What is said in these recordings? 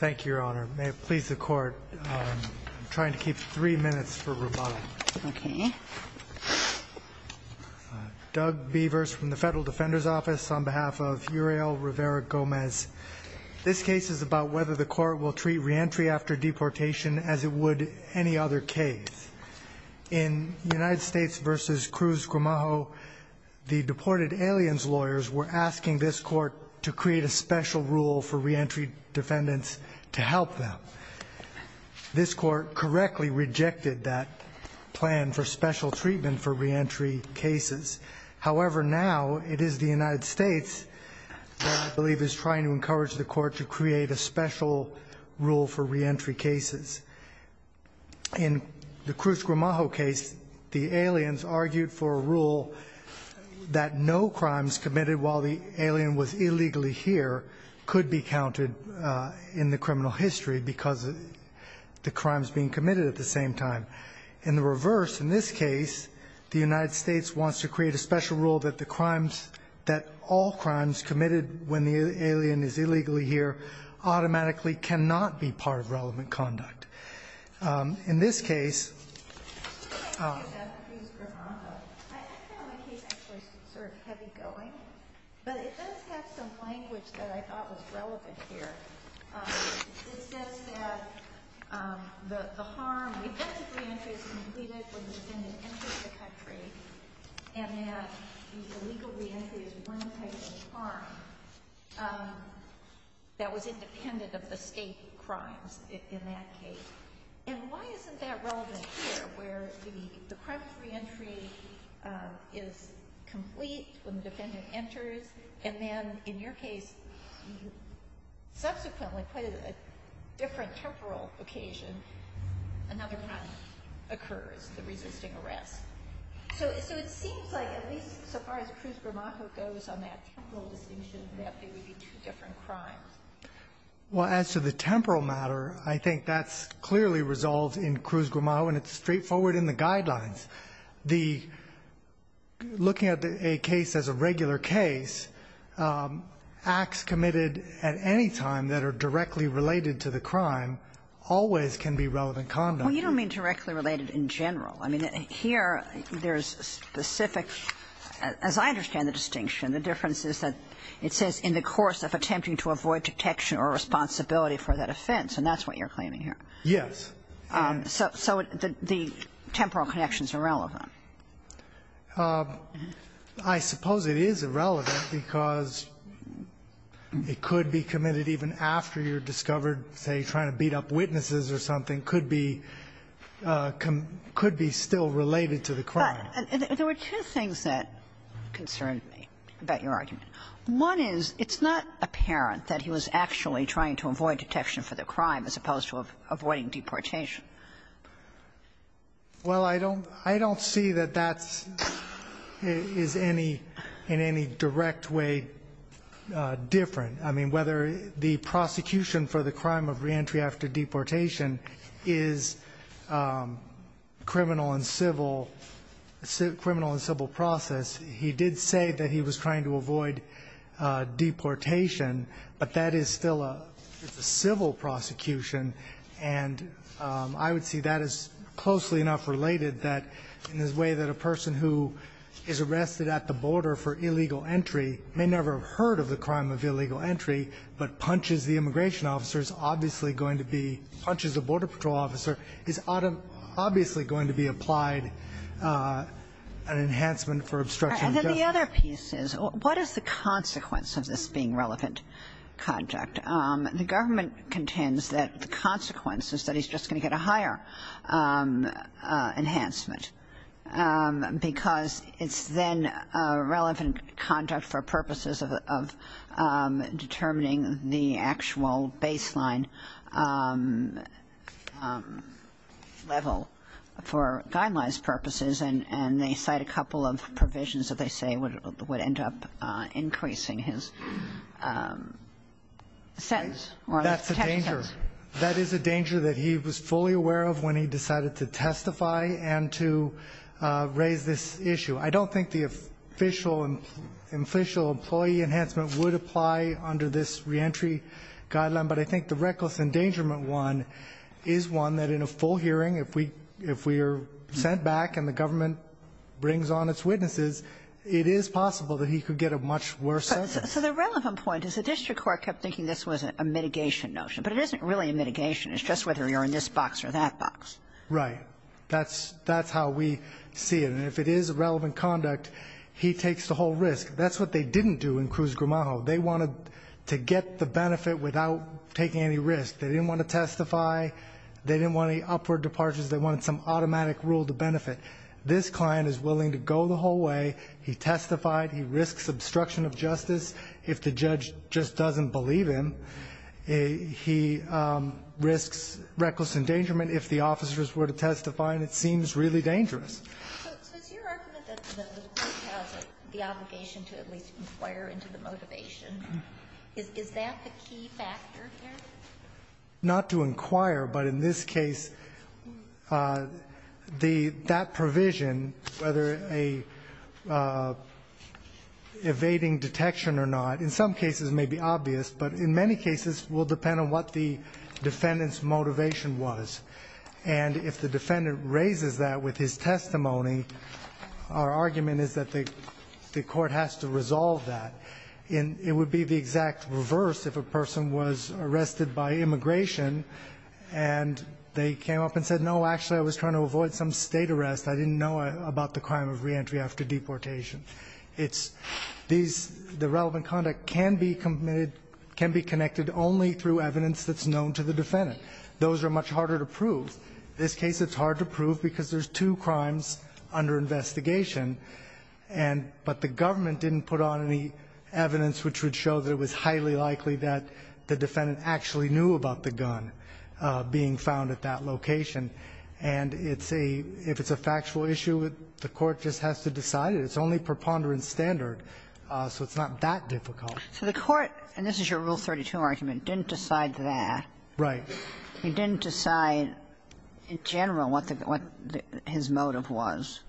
Thank you, Your Honor. May it please the Court, I'm trying to keep three minutes for rebuttal. Doug Beavers from the Federal Defender's Office on behalf of Uriel Rivera-Gomez. This case is about whether the Court will treat reentry after deportation as it would any other case. In United States v. Cruz-Gramajo, the deported aliens lawyers were asking this Court to create a special rule for reentry defendants to help them. This Court correctly rejected that plan for special treatment for reentry cases. However, now it is the United States that I believe is trying to encourage the Court to create a special rule for reentry cases. In the Cruz-Gramajo case, the aliens argued for a rule that no crimes committed while the alien was illegally here could be counted in the criminal history because the crime is being committed at the same time. In the reverse, in this case, the United States wants to create a special rule that all crimes committed when the alien is illegally here automatically cannot be counted in the criminal history because the crime is being committed at the same time. In this case, in that case. And why isn't that relevant here, where the crime of reentry is complete when the defendant enters, and then, in your case, subsequently, quite on a different temporal occasion, another crime occurs, the resisting arrest? So it seems like, at least so far as Cruz-Gramajo goes on that temporal distinction, that they would be two different crimes. Well, as to the temporal matter, I think that's clearly resolved in Cruz-Gramajo, and it's straightforward in the guidelines. The – looking at a case as a regular case, acts committed at any time that are directly related to the crime always can be relevant conduct. Well, you don't mean directly related in general. I mean, here, there's a specific – as I understand the distinction, the difference is that it says in the course of attempting to avoid detection or responsibility for that offense, and that's what you're claiming here. Yes. So the temporal connection is irrelevant. I suppose it is irrelevant because it could be committed even after you're discovered, say, trying to beat up witnesses or something, could be – could be still related to the crime. But there were two things that concerned me about your argument. One is, it's not apparent that he was actually trying to avoid detection for the crime as opposed to avoiding deportation. Well, I don't – I don't see that that's – is any – in any direct way different. I mean, whether the prosecution for the crime of reentry after deportation is criminal and civil – criminal and civil process, he did say that he was trying to avoid deportation, but that is still a – it's a civil prosecution. And I would see that as closely enough related that in the way that a person who is arrested at the border for illegal entry may never have heard of the crime of illegal is obviously going to be applied an enhancement for obstruction. And then the other piece is, what is the consequence of this being relevant conduct? The government contends that the consequence is that he's just going to get a higher enhancement because it's then relevant conduct for purposes of determining the actual baseline level for guidelines purposes. And they cite a couple of provisions that they say would end up increasing his sentence or his detention sentence. That's a danger. That is a danger that he was fully aware of when he decided to testify and to raise this issue. I don't think the official – official employee enhancement would apply under this reentry guideline, but I think the reckless endangerment one is one that in a full hearing, if we – if we are sent back and the government brings on its witnesses, it is possible that he could get a much worse sentence. So the relevant point is the district court kept thinking this was a mitigation notion, but it isn't really a mitigation. It's just whether you're in this box or that box. Right. That's – that's how we see it. And if it is relevant conduct, he takes the whole risk. That's what they didn't do in Cruz-Gramajo. They wanted to get the benefit without taking any risk. They didn't want to testify. They didn't want any upward departures. They wanted some automatic rule to benefit. This client is willing to go the whole way. He testified. He risks obstruction of justice if the judge just doesn't believe him. He risks reckless endangerment if the officers were to testify, and it seems really dangerous. So it's your argument that the court has the obligation to at least inquire into the motivation. Is that the key factor here? Not to inquire, but in this case, the – that provision, whether a evading detection or not, in some cases may be obvious, but in many cases will depend on what defendant's motivation was. And if the defendant raises that with his testimony, our argument is that the court has to resolve that. It would be the exact reverse if a person was arrested by immigration and they came up and said, no, actually, I was trying to avoid some state arrest. I didn't know about the crime of reentry after deportation. It's – these – the defendant. Those are much harder to prove. In this case, it's hard to prove because there's two crimes under investigation, and – but the government didn't put on any evidence which would show that it was highly likely that the defendant actually knew about the gun being found at that location. And it's a – if it's a factual issue, the court just has to decide it. It's only preponderance standard, so it's not that difficult. So the court, and this is your Rule 32 argument, didn't decide that. Right. He didn't decide in general what the – what his motive was.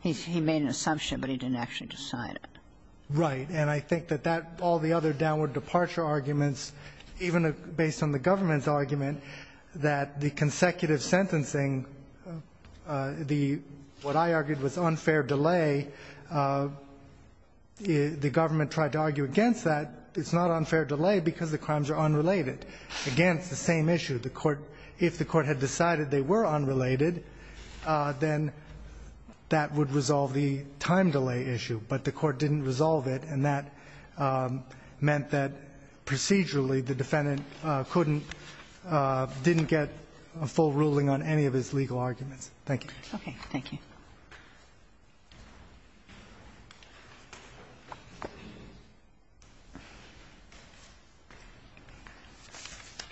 He made an assumption, but he didn't actually decide it. Right. And I think that that – all the other downward departure arguments, even based on the government's argument, that the consecutive sentencing, the – what tried to argue against that, it's not unfair delay because the crimes are unrelated. Again, it's the same issue. The court – if the court had decided they were unrelated, then that would resolve the time delay issue. But the court didn't resolve it, and that meant that procedurally, the defendant couldn't – didn't get a full ruling on any of his legal arguments. Thank you. Okay. Thank you.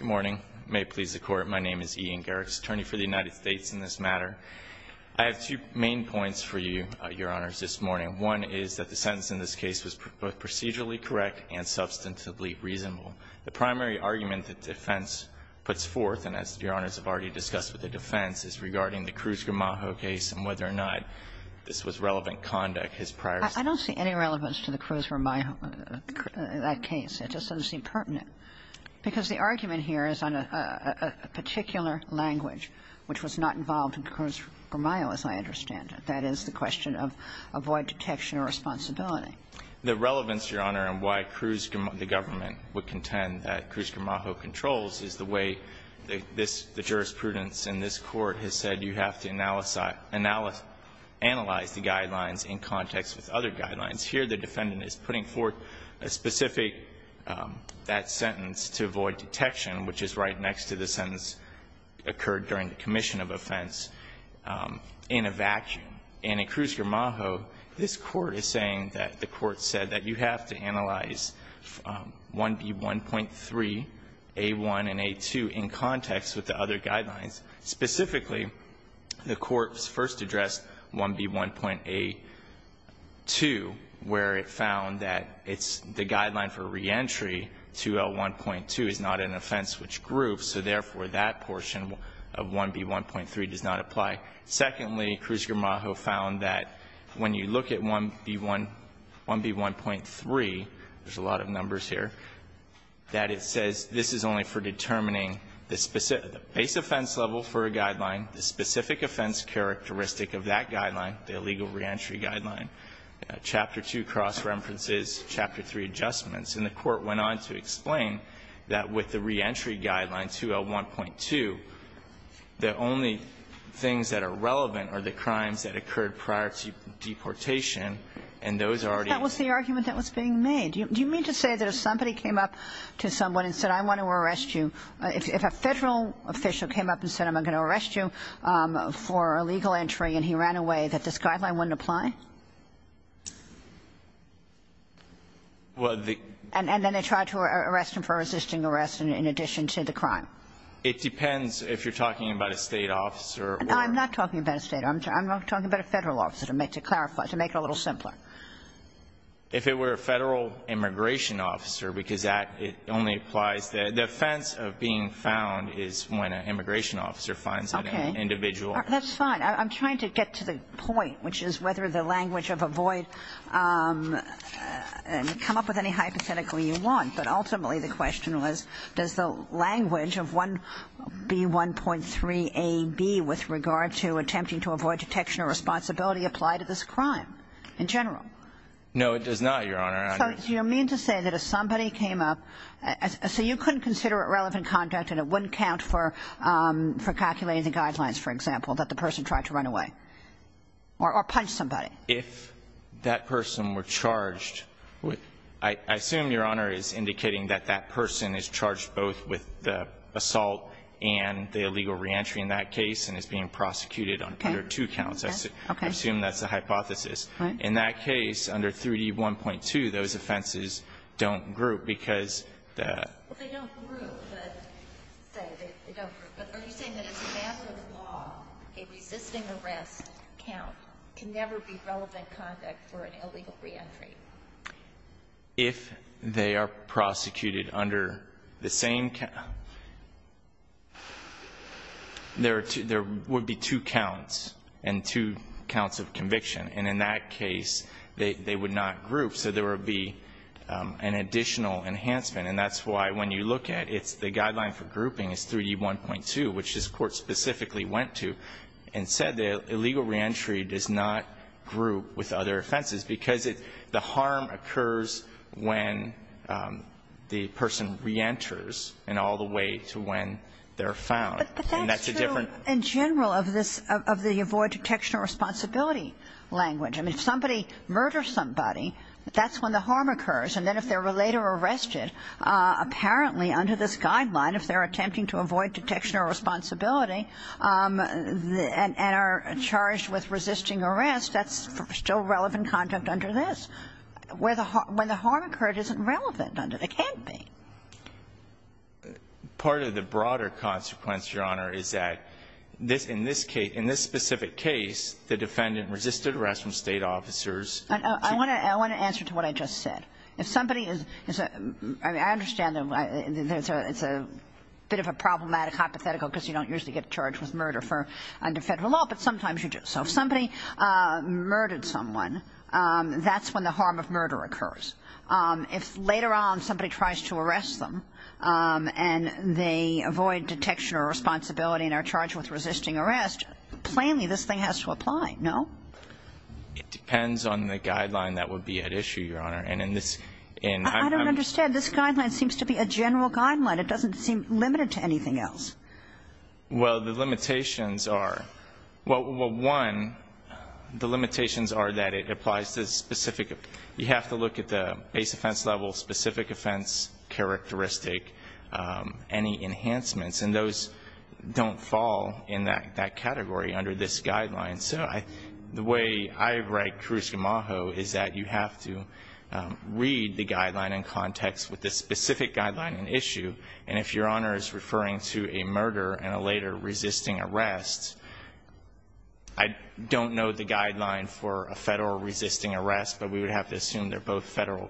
Good morning. May it please the Court. My name is Ian Garrick, attorney for the United States in this matter. I have two main points for you, Your Honors, this morning. One is that the sentence in this case was both procedurally correct and substantively reasonable. The primary argument that defense puts forth, and as Your Honors have already discussed with the defense, is regarding the Cruz-Ramajo case and whether or not this was relevant conduct, his prior – I don't see any relevance to the Cruz-Ramajo case. It just doesn't seem pertinent. Because the argument here is on a particular language, which was not involved in Cruz-Ramajo, as I understand it. That is, the question of avoid detection or responsibility. The relevance, Your Honor, and why Cruz-Ramajo – the government would contend that Cruz-Ramajo controls is the way this – the jurisprudence in this Court has said you have to analyze the guidelines in context with other guidelines. Here, the defendant is putting forth a specific – that sentence to avoid detection, which is right next to the sentence occurred during the commission of offense in a vacuum. And in Cruz-Ramajo, this Court is saying that the Court said that you have to analyze 1B1.3, A1, and A2 in context with the other guidelines, specifically in the context where the Court first addressed 1B1.A2, where it found that it's – the guideline for reentry to L1.2 is not an offense which groups, so therefore, that portion of 1B1.3 does not apply. Secondly, Cruz-Ramajo found that when you look at 1B1 – 1B1.3 – there's a lot of numbers here – that it says this is only for determining the specific – the base offense level for a guideline, the specific offense characteristic of that guideline, the illegal reentry guideline. Chapter 2 cross-references Chapter 3 adjustments. And the Court went on to explain that with the reentry guideline, 2L1.2, the only things that are relevant are the crimes that occurred prior to deportation, and those are already – Kagan. That was the argument that was being made. Do you mean to say that if somebody came up to someone and said, I want to arrest you – if a federal official came up and said, I'm going to arrest you for illegal entry, and he ran away, that this guideline wouldn't apply? Well, the – And then they tried to arrest him for resisting arrest in addition to the crime. It depends if you're talking about a state officer or – I'm not talking about a state officer. I'm talking about a federal officer, to make – to clarify – to make it a little simpler. If it were a federal immigration officer, because that – it only applies – the defense of being found is when an immigration officer finds an individual. Okay. That's fine. I'm trying to get to the point, which is whether the language of avoid – come up with any hypothetical you want. But ultimately, the question was, does the language of 1B1.3a)(b), with regard to attempting to avoid detection or responsibility, apply to this crime in general? No, it does not, Your Honor. I – Do you mean to say that if somebody came up – so you couldn't consider it relevant conduct, and it wouldn't count for calculating the guidelines, for example, that the person tried to run away? Or punch somebody? If that person were charged – I assume, Your Honor, is indicating that that person is charged both with the assault and the illegal reentry in that case, and is being prosecuted under two counts. Okay. Okay. I assume that's the hypothesis. Right. In that case, under 3D1.2, those offenses don't group, because the – Well, they don't group, but – they don't group. But are you saying that as a matter of law, a resisting arrest count can never be relevant conduct for an illegal reentry? If they are prosecuted under the same – there are two – there would be two counts and two counts of conviction. And in that case, they would not group. So there would be an additional enhancement. And that's why, when you look at it, the guideline for grouping is 3D1.2, which this Court specifically went to and said that illegal reentry does not group with other offenses, because it – the harm occurs when the person reenters and all the way to when they're found. And that's a different – the avoid detection or responsibility language. I mean, if somebody murders somebody, that's when the harm occurs. And then if they're later arrested, apparently under this guideline, if they're attempting to avoid detection or responsibility and are charged with resisting arrest, that's still relevant conduct under this. Where the – when the harm occurred, it isn't relevant under – it can't be. Part of the broader consequence, Your Honor, is that this – in this case – in this specific case, the defendant resisted arrest from State officers. I want to – I want to answer to what I just said. If somebody is – I mean, I understand that it's a bit of a problematic hypothetical, because you don't usually get charged with murder for – under Federal law, but sometimes you do. So if somebody murdered someone, that's when the harm of murder occurs. If later on somebody tries to arrest them and they avoid detection or responsibility and are charged with resisting arrest, plainly this thing has to apply, no? It depends on the guideline that would be at issue, Your Honor. And in this – in – I don't understand. This guideline seems to be a general guideline. It doesn't seem limited to anything else. Well, the limitations are – well, one, the limitations are that it applies to specific – you have to look at the base offense level, specific offense characteristic, any enhancements, and those don't fall in that – that category under this guideline. So I – the way I write Cruz-Gamajo is that you have to read the guideline in context with the specific guideline at issue, and if Your Honor is referring to a murder and a later resisting arrest, I don't know the guideline for a Federal resisting arrest, but we would have to assume they're both Federal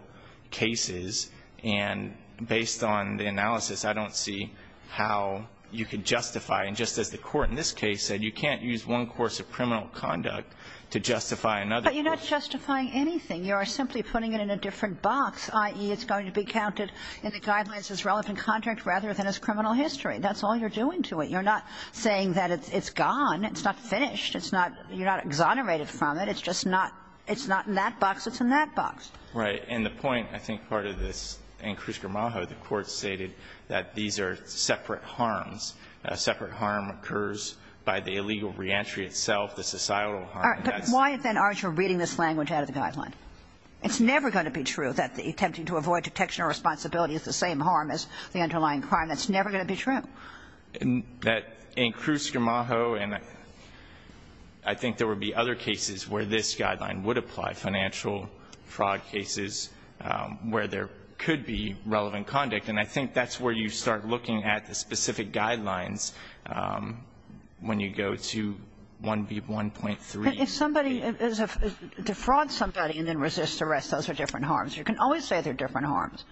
cases. And based on the analysis, I don't see how you could justify – and just as the Court in this case said, you can't use one course of criminal conduct to justify another. But you're not justifying anything. You are simply putting it in a different box, i.e., it's going to be counted in the guidelines as relevant contract rather than as criminal history. That's all you're doing to it. You're not saying that it's gone. It's not finished. It's not – you're not exonerated from it. It's just not – it's not in that box. It's in that box. Right. And the point, I think, part of this, in Cruz-Gramajo, the Court stated that these are separate harms. A separate harm occurs by the illegal reentry itself, the societal harm. All right. But why, then, aren't you reading this language out of the guideline? It's never going to be true that attempting to avoid detection or responsibility is the same harm as the underlying crime. That's never going to be true. In Cruz-Gramajo, and I think there would be other cases where this guideline would apply, financial fraud cases where there could be relevant conduct. And I think that's where you start looking at the specific guidelines when you go to 1B1.3. But if somebody – to fraud somebody and then resist arrest, those are different harms. You can always say they're different harms.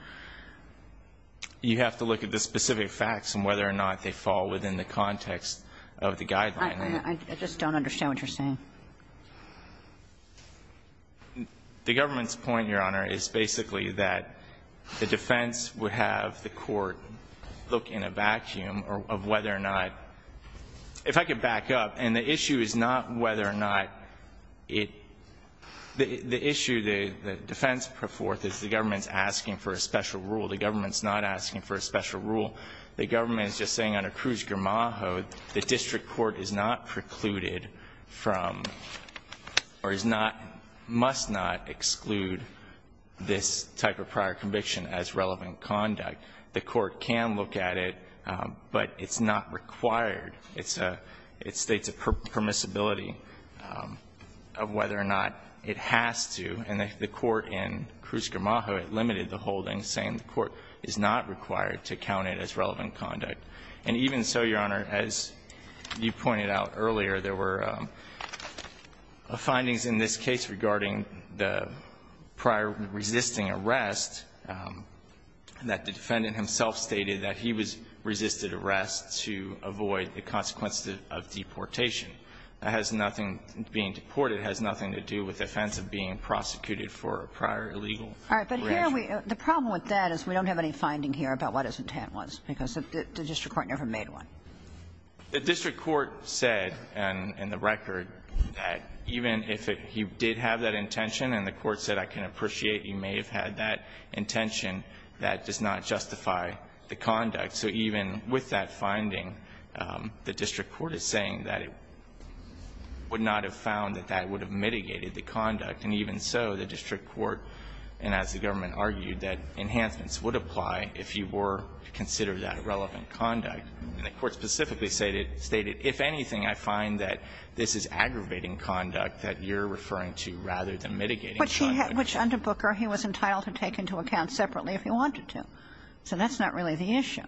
You have to look at the specific facts and whether or not they fall within the context of the guideline. I just don't understand what you're saying. The government's point, Your Honor, is basically that the defense would have the court look in a vacuum of whether or not – if I could back up, and the issue is not whether or not it – the issue the defense put forth is the government's asking for a special rule. The government's not asking for a special rule. The government is just saying under Cruz-Gramajo, the district court is not precluded from, or is not – must not exclude this type of prior conviction as relevant conduct. The court can look at it, but it's not required. It's a – it states a permissibility of whether or not it has to, and the court in Cruz-Gramajo, it limited the holding, saying the court is not required to count it as relevant conduct. And even so, Your Honor, as you pointed out earlier, there were findings in this case regarding the prior resisting arrest that the defendant himself stated that he was – resisted arrest to avoid the consequences of deportation. That has nothing – being deported has nothing to do with the offense of being prosecuted for a prior illegal reaction. Kagan. All right, but here we – the problem with that is we don't have any finding here about what his intent was, because the district court never made one. The district court said in the record that even if it – he did have that intention and the court said I can appreciate you may have had that intention, that does not justify the conduct. So even with that finding, the district court is saying that it would not have found that that would have mitigated the conduct, and even so, the district court, and as the government argued, that enhancements would apply if you were to consider that relevant conduct. And the court specifically stated, if anything, I find that this is aggravating conduct that you're referring to rather than mitigating conduct. Which he had – which under Booker he was entitled to take into account separately if he wanted to. So that's not really the issue.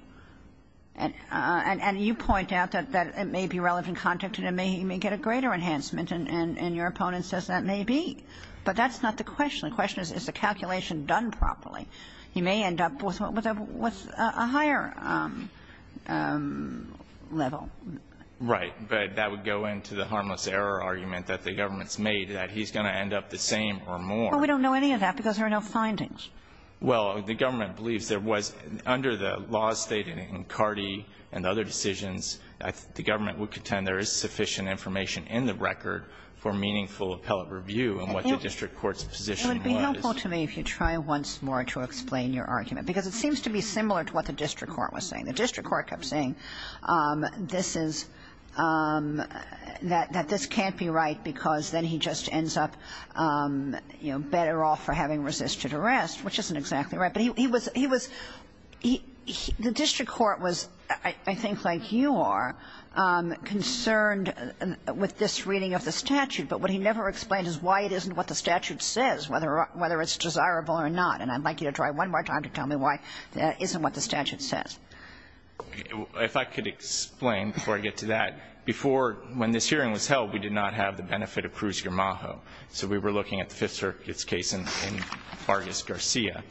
And you point out that it may be relevant conduct and he may get a greater enhancement and your opponent says that may be. But that's not the question. The question is, is the calculation done properly? He may end up with a higher level. Right. But that would go into the harmless error argument that the government's made, that he's going to end up the same or more. But we don't know any of that because there are no findings. Well, the government believes there was, under the laws stated in Cardi and other decisions, the government would contend there is sufficient information in the record for meaningful appellate review in what the district court's position was. It would be helpful to me if you try once more to explain your argument. Because it seems to be similar to what the district court was saying. The district court kept saying this is – that this can't be right because then he just ends up, you know, better off for having resisted arrest, which isn't exactly right. But he was – he was – the district court was, I think like you are, concerned with this reading of the statute. But what he never explained is why it isn't what the statute says, whether it's desirable or not. And I'd like you to try one more time to tell me why that isn't what the statute says. If I could explain before I get to that. Before, when this hearing was held, we did not have the benefit of Cruz-Garmajo. So we were looking at the Fifth Circuit's case in Vargas-Garcia.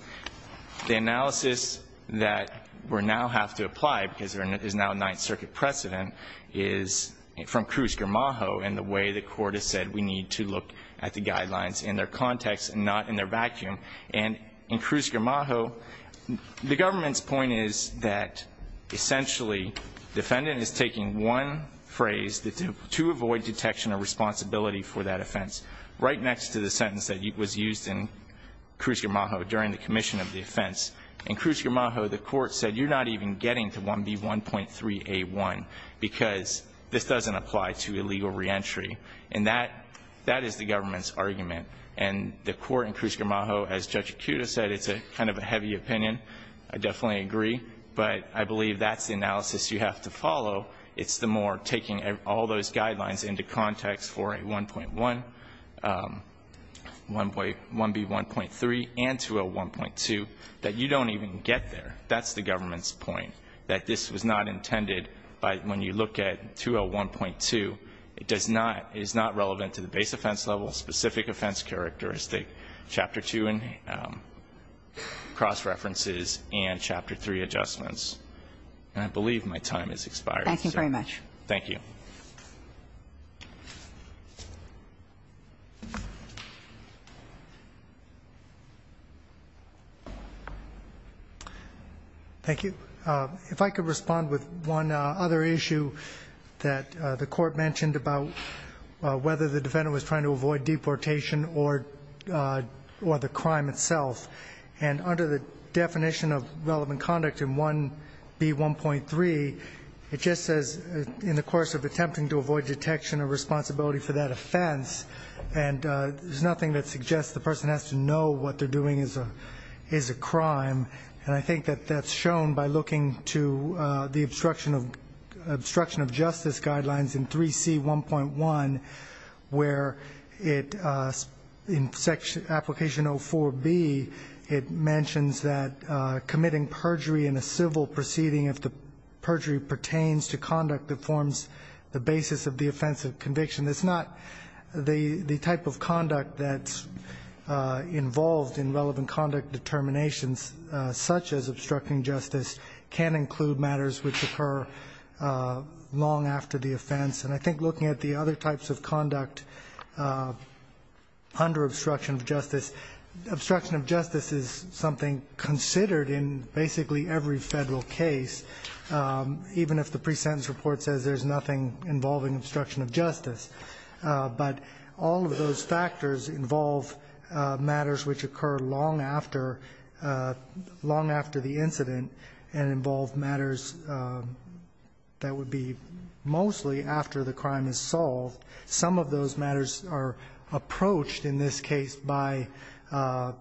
The analysis that we now have to apply, because there is now a Ninth Circuit precedent, is from Cruz-Garmajo and the way the court has said we need to look at the guidelines in their context and not in their vacuum. And in Cruz-Garmajo, the government's point is that essentially defendant is taking one phrase to avoid detection or responsibility for that offense right next to the sentence that was used in Cruz-Garmajo during the commission of the offense. In Cruz-Garmajo, the court said you're not even getting to 1B1.3A1 because this doesn't apply to illegal reentry. And that is the government's argument. And the court in Cruz-Garmajo, as Judge Akuta said, it's kind of a heavy opinion. I definitely agree. But I believe that's the analysis you have to follow. It's the more taking all those guidelines into context for a 1.1, 1B1.3, and to a 1.2 that you don't even get there. That's the government's point, that this was not intended by when you look at 201.2, it does not, is not relevant to the base offense level, specific offense characteristic, Chapter 2 cross-references and Chapter 3 adjustments. And I believe my time has expired. Thank you very much. Thank you. Thank you. If I could respond with one other issue that the court mentioned about whether the defendant was trying to avoid deportation or the crime itself. And under the definition of relevant conduct in 1B1.3, it just says, in the course of attempting to avoid detection or responsibility for that offense, and there's nothing that suggests the person has to know what they're doing is a crime. And I think that that's shown by looking to the obstruction of justice guidelines in 3C1.1, where in application 04B, it mentions that committing perjury in a civil proceeding if the perjury pertains to conduct that forms the basis of the offensive conviction. It's not the type of conduct that's involved in relevant conduct determinations such as obstructing justice can include matters which occur long after the offense. And I think looking at the other types of conduct under obstruction of justice, obstruction of justice is something considered in basically every federal case, even if the pre-sentence report says there's nothing involving obstruction of justice. But all of those factors involve matters which occur long after the incident and involve matters that would be mostly after the crime is solved. Some of those matters are approached in this case by the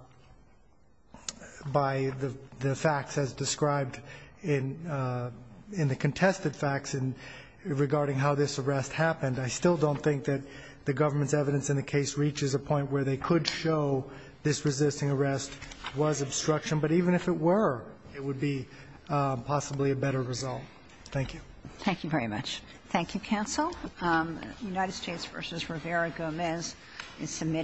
facts as described in the contested facts in regarding how this arrest happened. I still don't think that the government's evidence in the case reaches a point where they could show this resisting arrest was obstruction, but even if it were, it would be possibly a better result. Thank you. Thank you very much. Thank you, counsel. United States v. Rivera-Gomez is submitted.